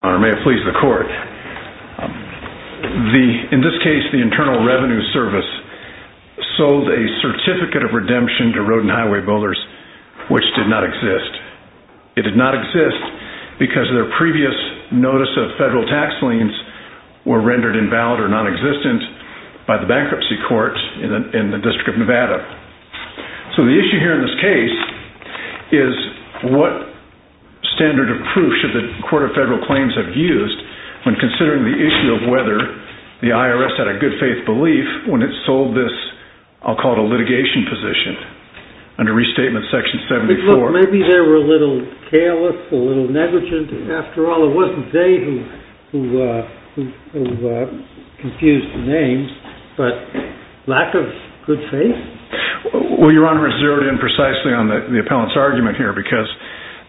In this case, the Internal Revenue Service sold a Certificate of Redemption to Road and Highway Builders, which did not exist. It did not exist because their previous notice of federal tax liens were rendered invalid or nonexistent by the Bankruptcy Court in the District of Nevada. So the issue here in this case is what standard of proof should the Court of Federal Claims have used when considering the issue of whether the IRS had a good faith belief when it sold this, I'll call it a litigation position, under Restatement Section 74? Look, maybe they were a little careless, a little negligent after all. It wasn't they who confused the names, but lack of good faith? Well, Your Honor, it's zeroed in precisely on the appellant's argument here because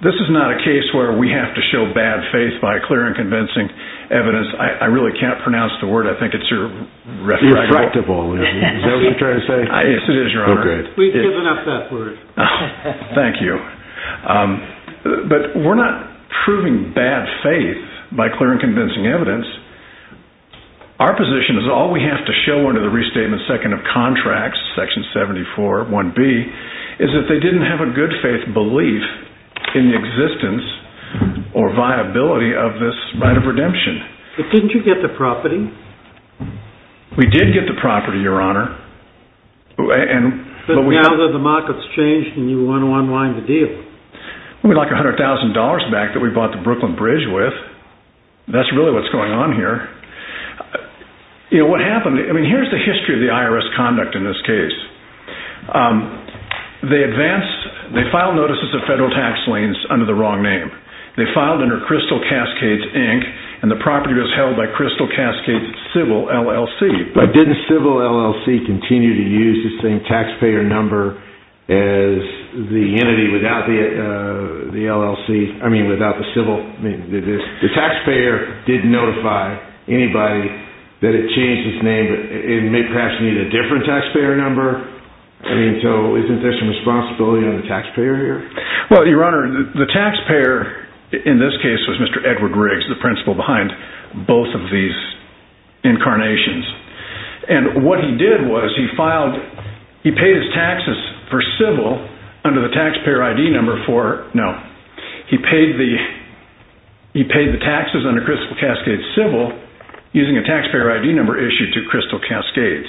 this is not a case where we have to show bad faith by clear and convincing evidence. I really can't pronounce the word. I think it's your... Refractable. Is that what you're trying to say? Yes, it is, Your Honor. We've given up that word. Thank you. But we're not proving bad faith by clear and convincing evidence. Our position is all we have to show under the Restatement Second of Contracts, Section 74, 1B, is that they didn't have a good faith belief in the existence or viability of this right of redemption. But didn't you get the property? We did get the property, Your Honor. But now that the market's changed and you want to unwind the deal. We'd like $100,000 back that we bought the Brooklyn Bridge with. That's really what's going on here. You know, what happened, I mean, here's the history of the IRS conduct in this case. They advanced, they filed notices of federal tax liens under the wrong name. They filed under Crystal Cascades, Inc., and the property was held by Crystal Cascades Civil, LLC. But didn't Civil, LLC continue to use the same taxpayer number as the entity without the LLC, I mean, without the Civil? The taxpayer did notify anybody that it changed its name, but it may perhaps need a different taxpayer number. I mean, so isn't there some responsibility on the taxpayer here? Well, Your Honor, the taxpayer in this case was Mr. Edward Riggs, the principal behind both of these incarnations. And what he did was he paid his taxes for Civil under the taxpayer ID number for, no. He paid the taxes under Crystal Cascades Civil using a taxpayer ID number issued to Crystal Cascades.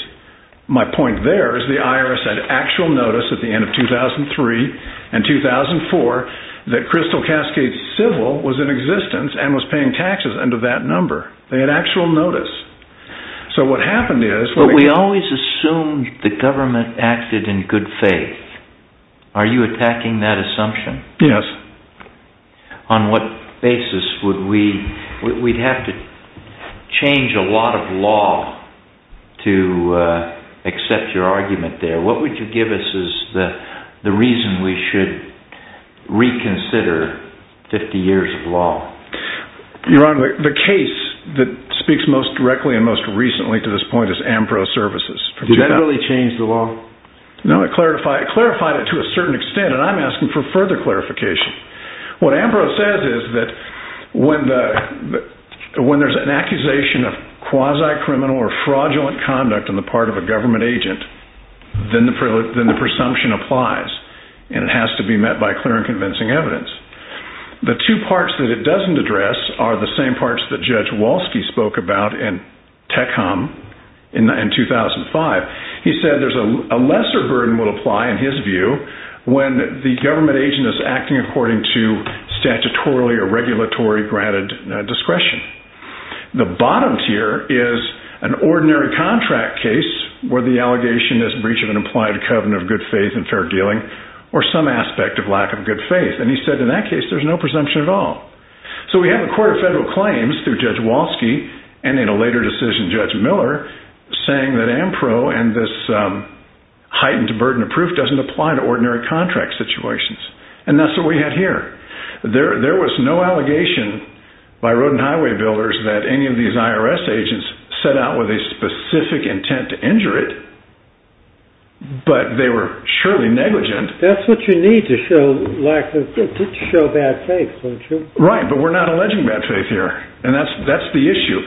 My point there is the IRS had actual notice at the end of 2003 and 2004 that Crystal Cascades Civil was in existence and was paying taxes under that number. They had actual notice. So what happened is... But we always assumed the government acted in good faith. Are you attacking that assumption? Yes. On what basis would we... we'd have to change a lot of law to accept your argument there. What would you give us as the reason we should reconsider 50 years of law? Your Honor, the case that speaks most directly and most recently to this point is Ampro Services. Did that really change the law? No, it clarified it to a certain extent, and I'm asking for further clarification. What Ampro says is that when there's an accusation of quasi-criminal or fraudulent conduct on the part of a government agent, then the presumption applies. And it has to be met by clear and convincing evidence. The two parts that it doesn't address are the same parts that Judge Walsky spoke about in Techcom in 2005. He said there's a lesser burden will apply in his view when the government agent is acting according to statutorily or regulatory granted discretion. The bottom tier is an ordinary contract case where the allegation is breach of an implied covenant of good faith and fair dealing or some aspect of lack of good faith. And he said in that case there's no presumption at all. So we have a court of federal claims through Judge Walsky and in a later decision Judge Miller saying that Ampro and this heightened burden of proof doesn't apply to ordinary contract situations. And that's what we had here. There was no allegation by road and highway builders that any of these IRS agents set out with a specific intent to injure it, but they were surely negligent. That's what you need to show lack of good, to show bad faith, don't you? Right, but we're not alleging bad faith here. And that's the issue.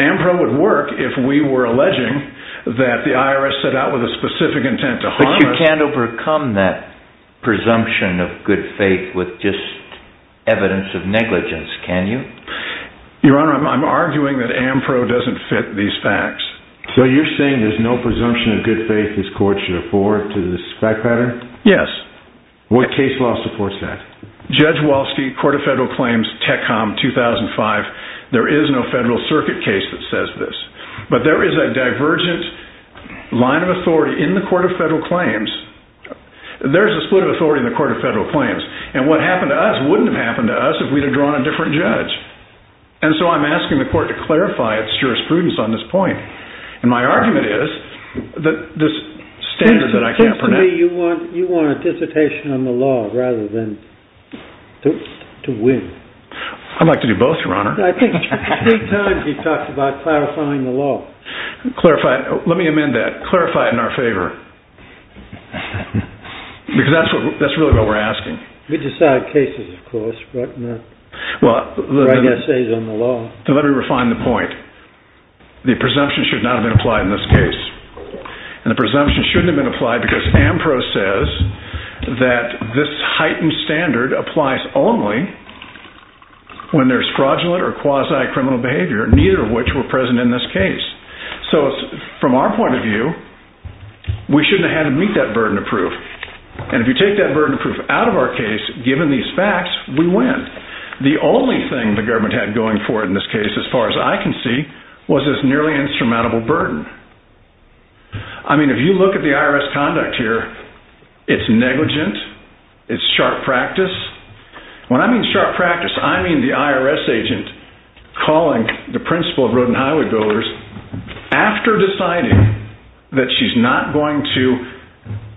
Ampro would work if we were alleging that the IRS set out with a specific intent to harm us. But you can't overcome that presumption of good faith with just evidence of negligence, can you? Your Honor, I'm arguing that Ampro doesn't fit these facts. So you're saying there's no presumption of good faith this court should afford to this fact pattern? Yes. What case law supports that? Judge Walsky, Court of Federal Claims, TECOM 2005. There is no federal circuit case that says this. But there is a divergent line of authority in the Court of Federal Claims. There's a split of authority in the Court of Federal Claims. And what happened to us wouldn't have happened to us if we'd have drawn a different judge. And so I'm asking the court to clarify its jurisprudence on this point. And my argument is that this standard that I can't pronounce— You want anticipation on the law rather than to win. I'd like to do both, Your Honor. I think three times he talked about clarifying the law. Let me amend that. Clarify it in our favor. Because that's really what we're asking. We decide cases, of course, but not write essays on the law. Let me refine the point. The presumption should not have been applied in this case. And the presumption shouldn't have been applied because AMPRO says that this heightened standard applies only when there's fraudulent or quasi-criminal behavior, neither of which were present in this case. So from our point of view, we shouldn't have had to meet that burden of proof. And if you take that burden of proof out of our case, given these facts, we win. The only thing the government had going for it in this case, as far as I can see, was this nearly insurmountable burden. I mean, if you look at the IRS conduct here, it's negligent. It's sharp practice. When I mean sharp practice, I mean the IRS agent calling the principal of Road and Highway Builders after deciding that she's not going to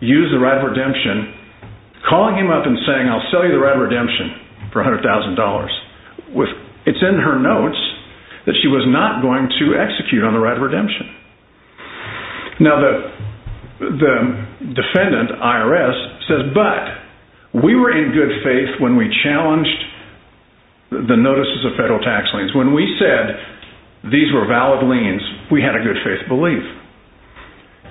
use the right of redemption, calling him up and saying, I'll sell you the right of redemption for $100,000. It's in her notes that she was not going to execute on the right of redemption. Now the defendant, IRS, says, but we were in good faith when we challenged the notices of federal tax liens. When we said these were valid liens, we had a good faith belief.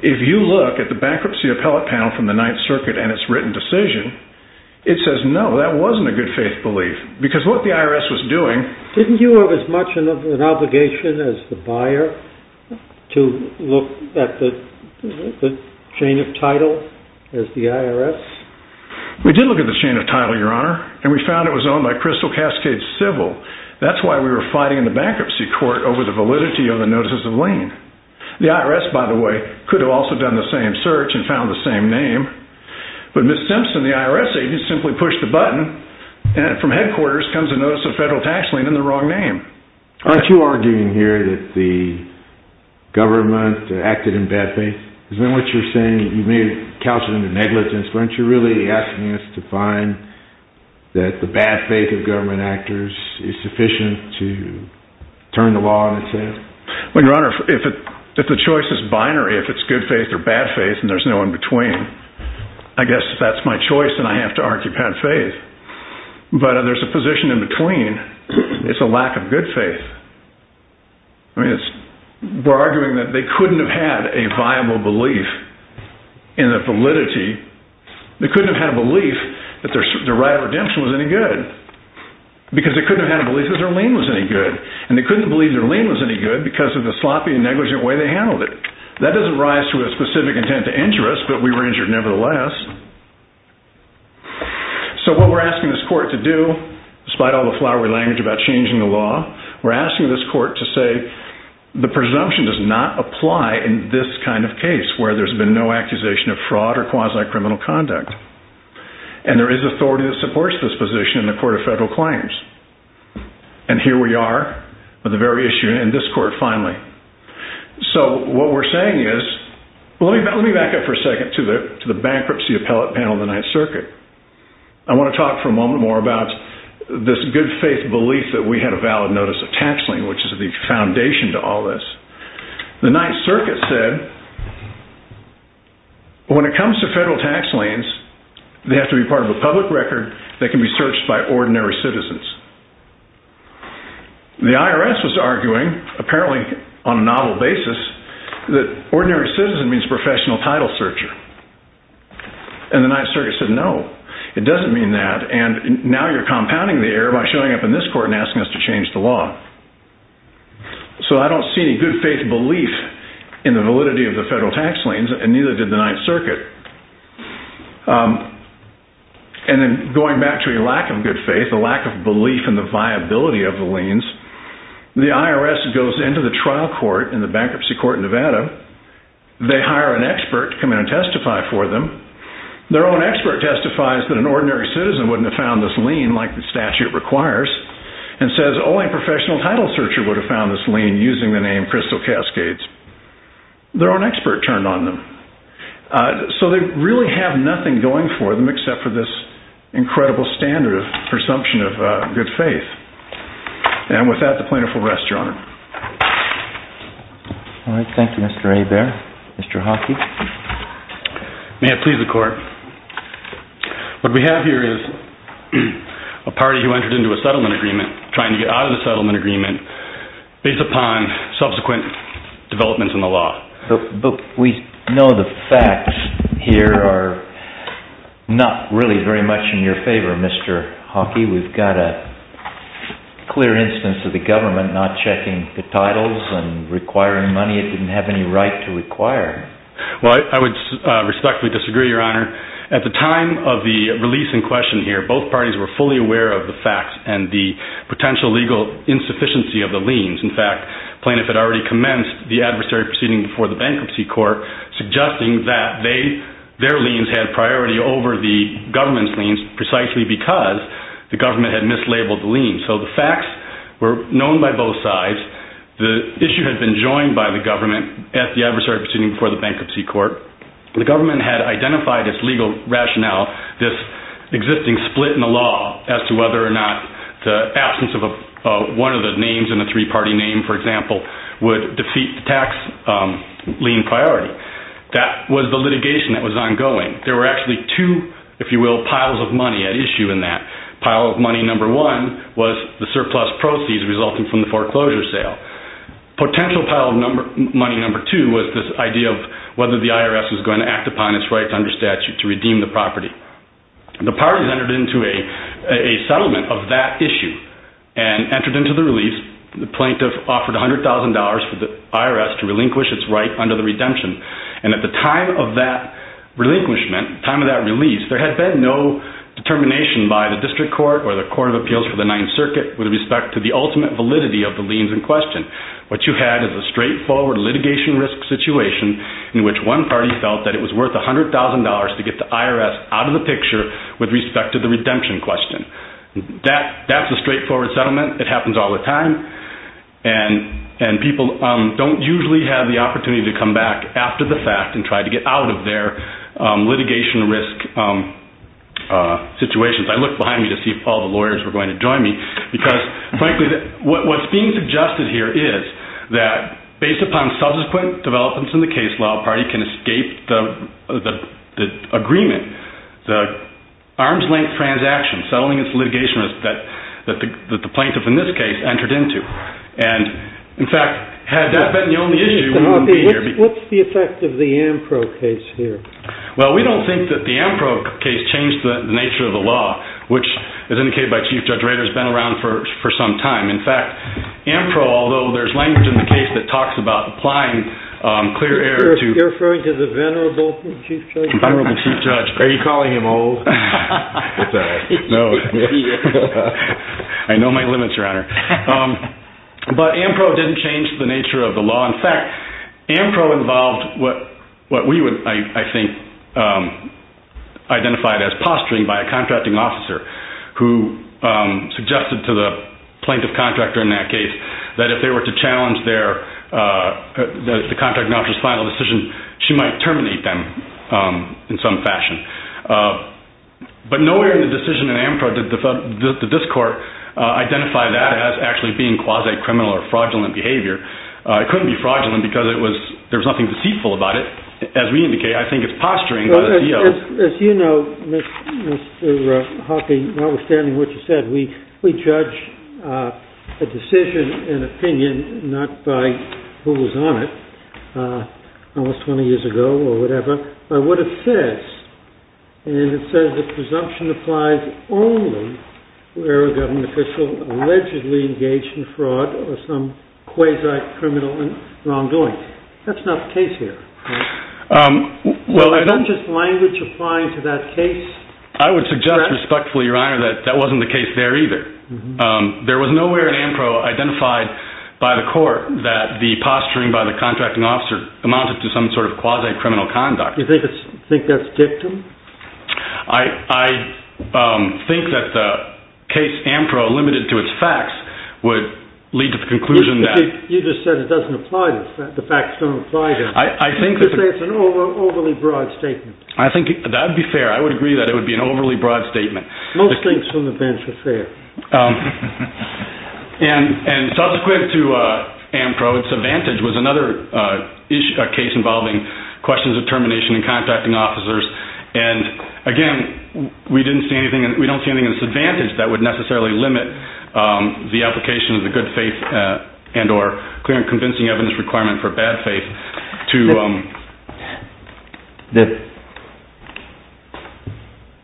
If you look at the bankruptcy appellate panel from the Ninth Circuit and its written decision, it says, no, that wasn't a good faith belief. Didn't you have as much an obligation as the buyer to look at the chain of title as the IRS? We did look at the chain of title, Your Honor, and we found it was owned by Crystal Cascade Civil. That's why we were fighting in the bankruptcy court over the validity of the notices of lien. The IRS, by the way, could have also done the same search and found the same name. But Ms. Simpson, the IRS agent, simply pushed the button, and from headquarters comes a notice of federal tax lien in the wrong name. Aren't you arguing here that the government acted in bad faith? Isn't what you're saying, you may have couched it under negligence, but aren't you really asking us to find that the bad faith of government actors is sufficient to turn the law on its head? Well, Your Honor, if the choice is binary, if it's good faith or bad faith, and there's no in between, I guess if that's my choice, then I have to argue bad faith. But if there's a position in between, it's a lack of good faith. We're arguing that they couldn't have had a viable belief in the validity, they couldn't have had a belief that their right of redemption was any good. Because they couldn't have had a belief that their lien was any good. And they couldn't have believed their lien was any good because of the sloppy and negligent way they handled it. That doesn't rise to a specific intent to injure us, but we were injured nevertheless. So what we're asking this court to do, despite all the flowery language about changing the law, we're asking this court to say the presumption does not apply in this kind of case where there's been no accusation of fraud or quasi-criminal conduct. And there is authority that supports this position in the Court of Federal Claims. And here we are with the very issue in this court finally. So what we're saying is, let me back up for a second to the bankruptcy appellate panel of the Ninth Circuit. I want to talk for a moment more about this good faith belief that we had a valid notice of tax lien, which is the foundation to all this. The Ninth Circuit said, when it comes to federal tax liens, they have to be part of a public record that can be searched by ordinary citizens. The IRS was arguing, apparently on a novel basis, that ordinary citizen means professional title searcher. And the Ninth Circuit said, no, it doesn't mean that. And now you're compounding the error by showing up in this court and asking us to change the law. So I don't see any good faith belief in the validity of the federal tax liens, and neither did the Ninth Circuit. And then going back to your lack of good faith, the lack of belief in the viability of the liens, the IRS goes into the trial court in the bankruptcy court in Nevada. They hire an expert to come in and testify for them. Their own expert testifies that an ordinary citizen wouldn't have found this lien like the statute requires. And says, oh, a professional title searcher would have found this lien using the name Crystal Cascades. Their own expert turned on them. So they really have nothing going for them except for this incredible standard of presumption of good faith. And with that, the plaintiff will rest, Your Honor. All right, thank you, Mr. Hebert. Mr. Hockey. May it please the Court. What we have here is a party who entered into a settlement agreement trying to get out of the settlement agreement based upon subsequent developments in the law. But we know the facts here are not really very much in your favor, Mr. Hockey. We've got a clear instance of the government not checking the titles and requiring money it didn't have any right to require. Well, I would respectfully disagree, Your Honor. At the time of the release in question here, both parties were fully aware of the facts and the potential legal insufficiency of the liens. In fact, the plaintiff had already commenced the adversary proceeding before the bankruptcy court, suggesting that their liens had priority over the government's liens precisely because the government had mislabeled the liens. So the facts were known by both sides. The issue had been joined by the government at the adversary proceeding before the bankruptcy court. The government had identified its legal rationale, this existing split in the law, as to whether or not the absence of one of the names in a three-party name, for example, would defeat the tax lien priority. That was the litigation that was ongoing. There were actually two, if you will, piles of money at issue in that. Pile of money number one was the surplus proceeds resulting from the foreclosure sale. Potential pile of money number two was this idea of whether the IRS was going to act upon its rights under statute to redeem the property. The parties entered into a settlement of that issue and entered into the release. The plaintiff offered $100,000 for the IRS to relinquish its right under the redemption. At the time of that relinquishment, time of that release, there had been no determination by the district court or the court of appeals for the Ninth Circuit with respect to the ultimate validity of the liens in question. What you had is a straightforward litigation risk situation in which one party felt that it was worth $100,000 to get the IRS out of the picture with respect to the redemption question. That's a straightforward settlement. It happens all the time. People don't usually have the opportunity to come back after the fact and try to get out of their litigation risk situations. I looked behind me to see if all the lawyers were going to join me because, frankly, what's being suggested here is that based upon subsequent developments in the case, the district law party can escape the agreement, the arms-length transaction, settling its litigation risk that the plaintiff in this case entered into. In fact, had that been the only issue, we wouldn't be here. What's the effect of the Ampro case here? Well, we don't think that the Ampro case changed the nature of the law, which, as indicated by Chief Judge Rader, has been around for some time. In fact, Ampro, although there's language in the case that talks about applying clear air to— You're referring to the venerable Chief Judge? The venerable Chief Judge. Are you calling him old? No. I know my limits, Your Honor. But Ampro didn't change the nature of the law. In fact, Ampro involved what we would, I think, identify as posturing by a contracting officer who suggested to the plaintiff contractor in that case that if they were to challenge the contracting officer's final decision, she might terminate them in some fashion. But nowhere in the decision in Ampro did this court identify that as actually being quasi-criminal or fraudulent behavior. It couldn't be fraudulent because there was nothing deceitful about it. As we indicate, I think it's posturing by the DO. As you know, Mr. Hawking, notwithstanding what you said, we judge a decision and opinion not by who was on it almost 20 years ago or whatever, but what it says. And it says that presumption applies only where a government official allegedly engaged in fraud or some quasi-criminal wrongdoing. That's not the case here, right? Is that just language applying to that case? I would suggest respectfully, Your Honor, that that wasn't the case there either. There was nowhere in Ampro identified by the court that the posturing by the contracting officer amounted to some sort of quasi-criminal conduct. Do you think that's dictum? I think that the case Ampro, limited to its facts, would lead to the conclusion that… You just said it doesn't apply, the facts don't apply to it. I think that… You say it's an overly broad statement. I think that would be fair. I would agree that it would be an overly broad statement. Most things from the bench are fair. And subsequent to Ampro, its advantage was another case involving questions of termination and contacting officers. And again, we don't see anything in its advantage that would necessarily limit the application of the good faith and or clear and convincing evidence requirement for bad faith to…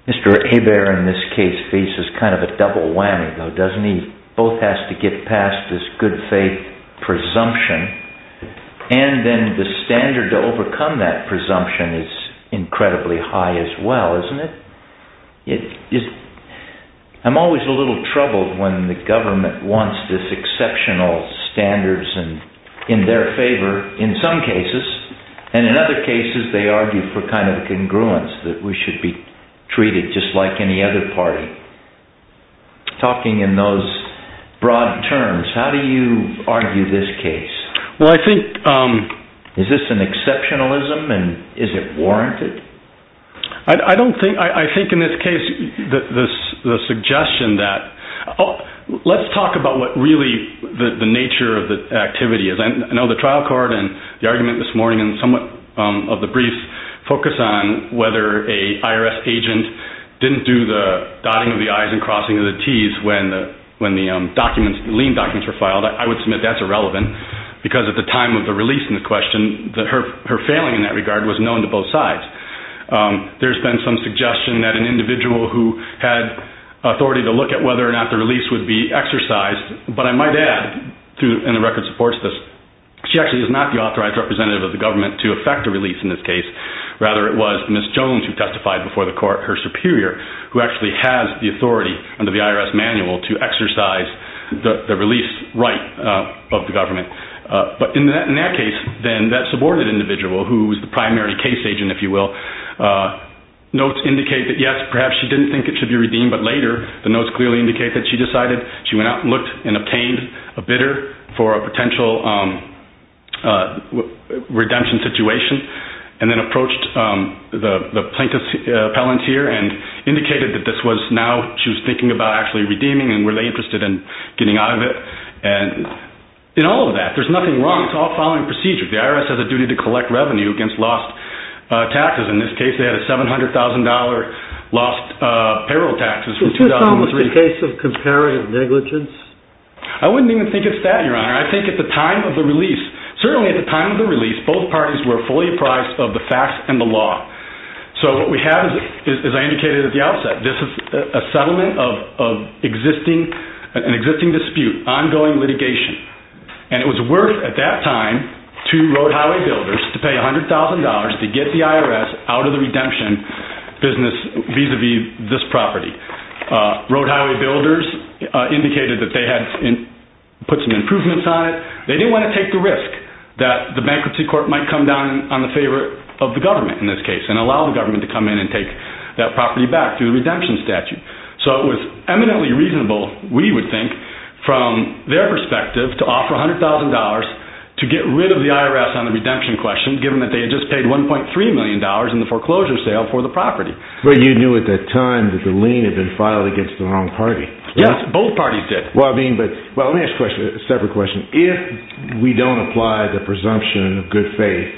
Mr. Hebert, in this case, faces kind of a double whammy, though, doesn't he? Both has to get past this good faith presumption, and then the standard to overcome that presumption is incredibly high as well, isn't it? I'm always a little troubled when the government wants this exceptional standards in their favor in some cases, and in other cases they argue for kind of a congruence that we should be treated just like any other party. Talking in those broad terms, how do you argue this case? Well, I think… Is this an exceptionalism, and is it warranted? I don't think… I think in this case the suggestion that… Let's talk about what really the nature of the activity is. I know the trial court and the argument this morning and somewhat of the brief focus on whether an IRS agent didn't do the dotting of the I's and crossing of the T's when the documents, the lien documents were filed. I would submit that's irrelevant because at the time of the release in the question, her failing in that regard was known to both sides. There's been some suggestion that an individual who had authority to look at whether or not the release would be exercised, but I might add, and the record supports this, she actually is not the authorized representative of the government to effect a release in this case. Rather, it was Ms. Jones who testified before the court, her superior, who actually has the authority under the IRS manual to exercise the release right of the government. But in that case, then, that subordinated individual who was the primary case agent, if you will, notes indicate that, yes, perhaps she didn't think it should be redeemed, but later the notes clearly indicate that she decided, she went out and looked and obtained a bidder for a potential redemption situation and then approached the plaintiff's appellant here and indicated that this was now, she was thinking about actually redeeming and were they interested in getting out of it. In all of that, there's nothing wrong. It's all following procedure. The IRS has a duty to collect revenue against lost taxes. In this case, they had a $700,000 lost payroll taxes. Is this almost a case of comparative negligence? I wouldn't even think it's that, Your Honor. I think at the time of the release, certainly at the time of the release, both parties were fully apprised of the facts and the law. So what we have is, as I indicated at the outset, this is a settlement of an existing dispute, ongoing litigation. And it was worth, at that time, to road highway builders to pay $100,000 to get the IRS out of the redemption business vis-a-vis this property. Road highway builders indicated that they had put some improvements on it. They didn't want to take the risk that the bankruptcy court might come down on the favor of the government in this case and allow the government to come in and take that property back through the redemption statute. So it was eminently reasonable, we would think, from their perspective to offer $100,000 to get rid of the IRS on the redemption question, given that they had just paid $1.3 million in the foreclosure sale for the property. But you knew at that time that the lien had been filed against the wrong party. Yes, both parties did. Well, let me ask a separate question. If we don't apply the presumption of good faith,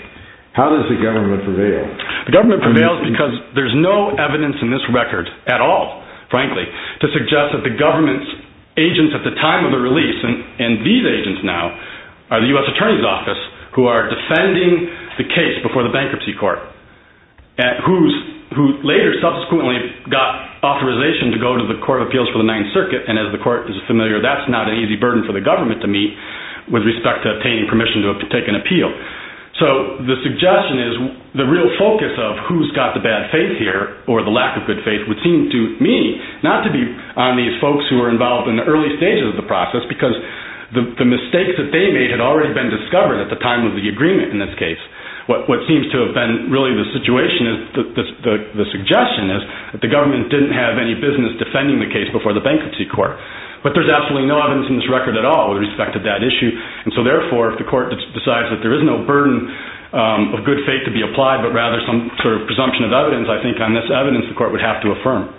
how does the government prevail? The government prevails because there's no evidence in this record at all, frankly, to suggest that the government's agents at the time of the release, and these agents now, are the U.S. Attorney's Office, who are defending the case before the bankruptcy court, who later subsequently got authorization to go to the Court of Appeals for the Ninth Circuit. And as the court is familiar, that's not an easy burden for the government to meet with respect to obtaining permission to take an appeal. So the suggestion is the real focus of who's got the bad faith here or the lack of good faith would seem to me not to be on these folks who are involved in the early stages of the process because the mistakes that they made had already been discovered at the time of the agreement in this case. What seems to have been really the suggestion is that the government didn't have any business defending the case before the bankruptcy court. But there's absolutely no evidence in this record at all with respect to that issue. And so, therefore, if the court decides that there is no burden of good faith to be applied but rather some sort of presumption of evidence, I think on this evidence the court would have to affirm.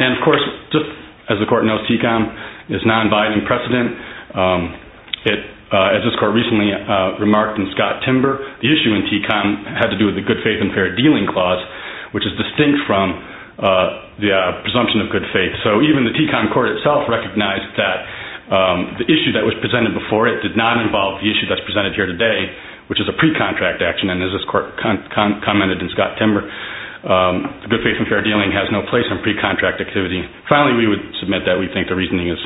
And, of course, just as the court knows, TECOM is non-binding precedent. As this court recently remarked in Scott Timber, the issue in TECOM had to do with the good faith and fair dealing clause, which is distinct from the presumption of good faith. So even the TECOM court itself recognized that the issue that was presented before it did not involve the issue that's presented here today, which is a pre-contract action, and as this court commented in Scott Timber, good faith and fair dealing has no place in pre-contract activity. Finally, we would submit that we think the reasoning is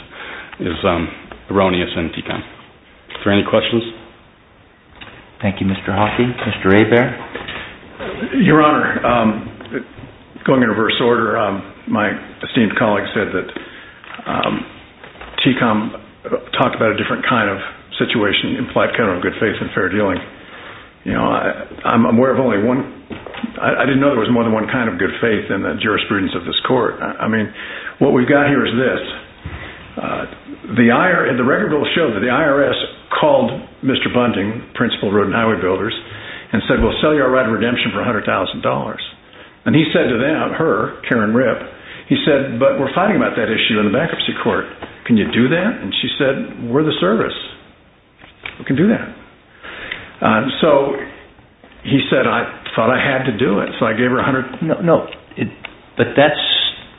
erroneous in TECOM. Are there any questions? Thank you, Mr. Hockey. Mr. Abare? Your Honor, going in reverse order, my esteemed colleague said that TECOM talked about a different kind of situation, implied kind of good faith and fair dealing. I didn't know there was more than one kind of good faith in the jurisprudence of this court. I mean, what we've got here is this. The record will show that the IRS called Mr. Bunting, principal of Road and Highway Builders, and said, we'll sell you our right of redemption for $100,000. And he said to them, her, Karen Rip, he said, but we're fighting about that issue in the bankruptcy court. Can you do that? And she said, we're the service. We can do that. So he said, I thought I had to do it. So I gave her $100,000. But that's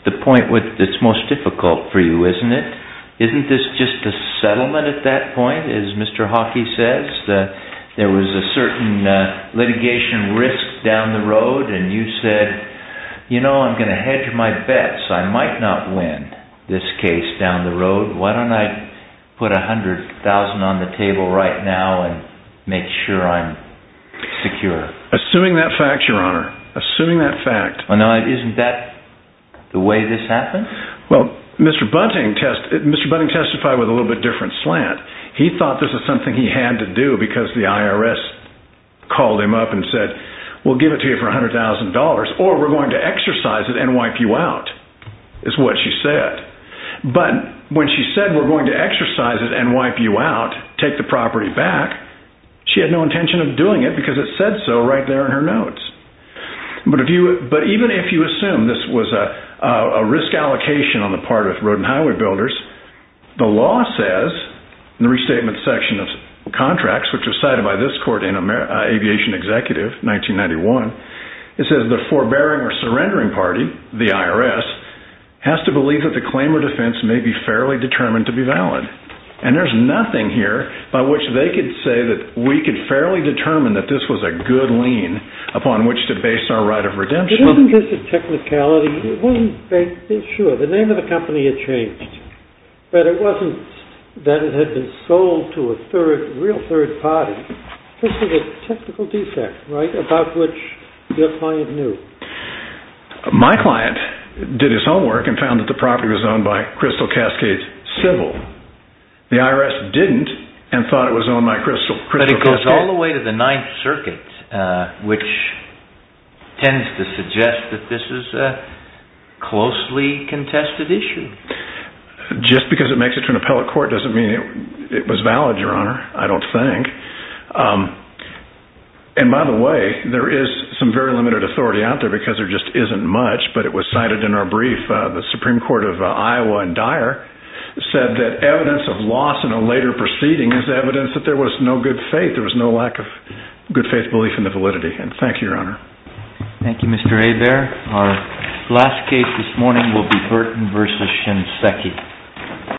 the point that's most difficult for you, isn't it? Isn't this just a settlement at that point, as Mr. Hockey says? There was a certain litigation risk down the road, and you said, you know, I'm going to hedge my bets. I might not win this case down the road. Why don't I put $100,000 on the table right now and make sure I'm secure? Assuming that fact, Your Honor. Assuming that fact. Isn't that the way this happened? Well, Mr. Bunting testified with a little bit different slant. He thought this was something he had to do because the IRS called him up and said, we'll give it to you for $100,000, or we're going to exercise it and wipe you out, is what she said. But when she said, we're going to exercise it and wipe you out, take the property back, she had no intention of doing it because it said so right there in her notes. But even if you assume this was a risk allocation on the part of road and highway builders, the law says in the restatement section of contracts, which was cited by this court in Aviation Executive 1991, it says the forbearing or surrendering party, the IRS, has to believe that the claim or defense may be fairly determined to be valid. And there's nothing here by which they could say that we could fairly determine that this was a good lien upon which to base our right of redemption. But isn't this a technicality? Sure, the name of the company had changed, but it wasn't that it had been sold to a real third party. This is a technical defect, right, about which your client knew. My client did his homework and found that the property was owned by Crystal Cascades Civil. The IRS didn't and thought it was owned by Crystal Cascades. But it goes all the way to the Ninth Circuit, which tends to suggest that this is a closely contested issue. Just because it makes it to an appellate court doesn't mean it was valid, Your Honor. I don't think. And by the way, there is some very limited authority out there because there just isn't much, but it was cited in our brief. The Supreme Court of Iowa and Dyer said that evidence of loss in a later proceeding is evidence that there was no good faith. There was no lack of good faith belief in the validity. And thank you, Your Honor. Thank you, Mr. A. Our last case this morning will be Burton v. Shinseki.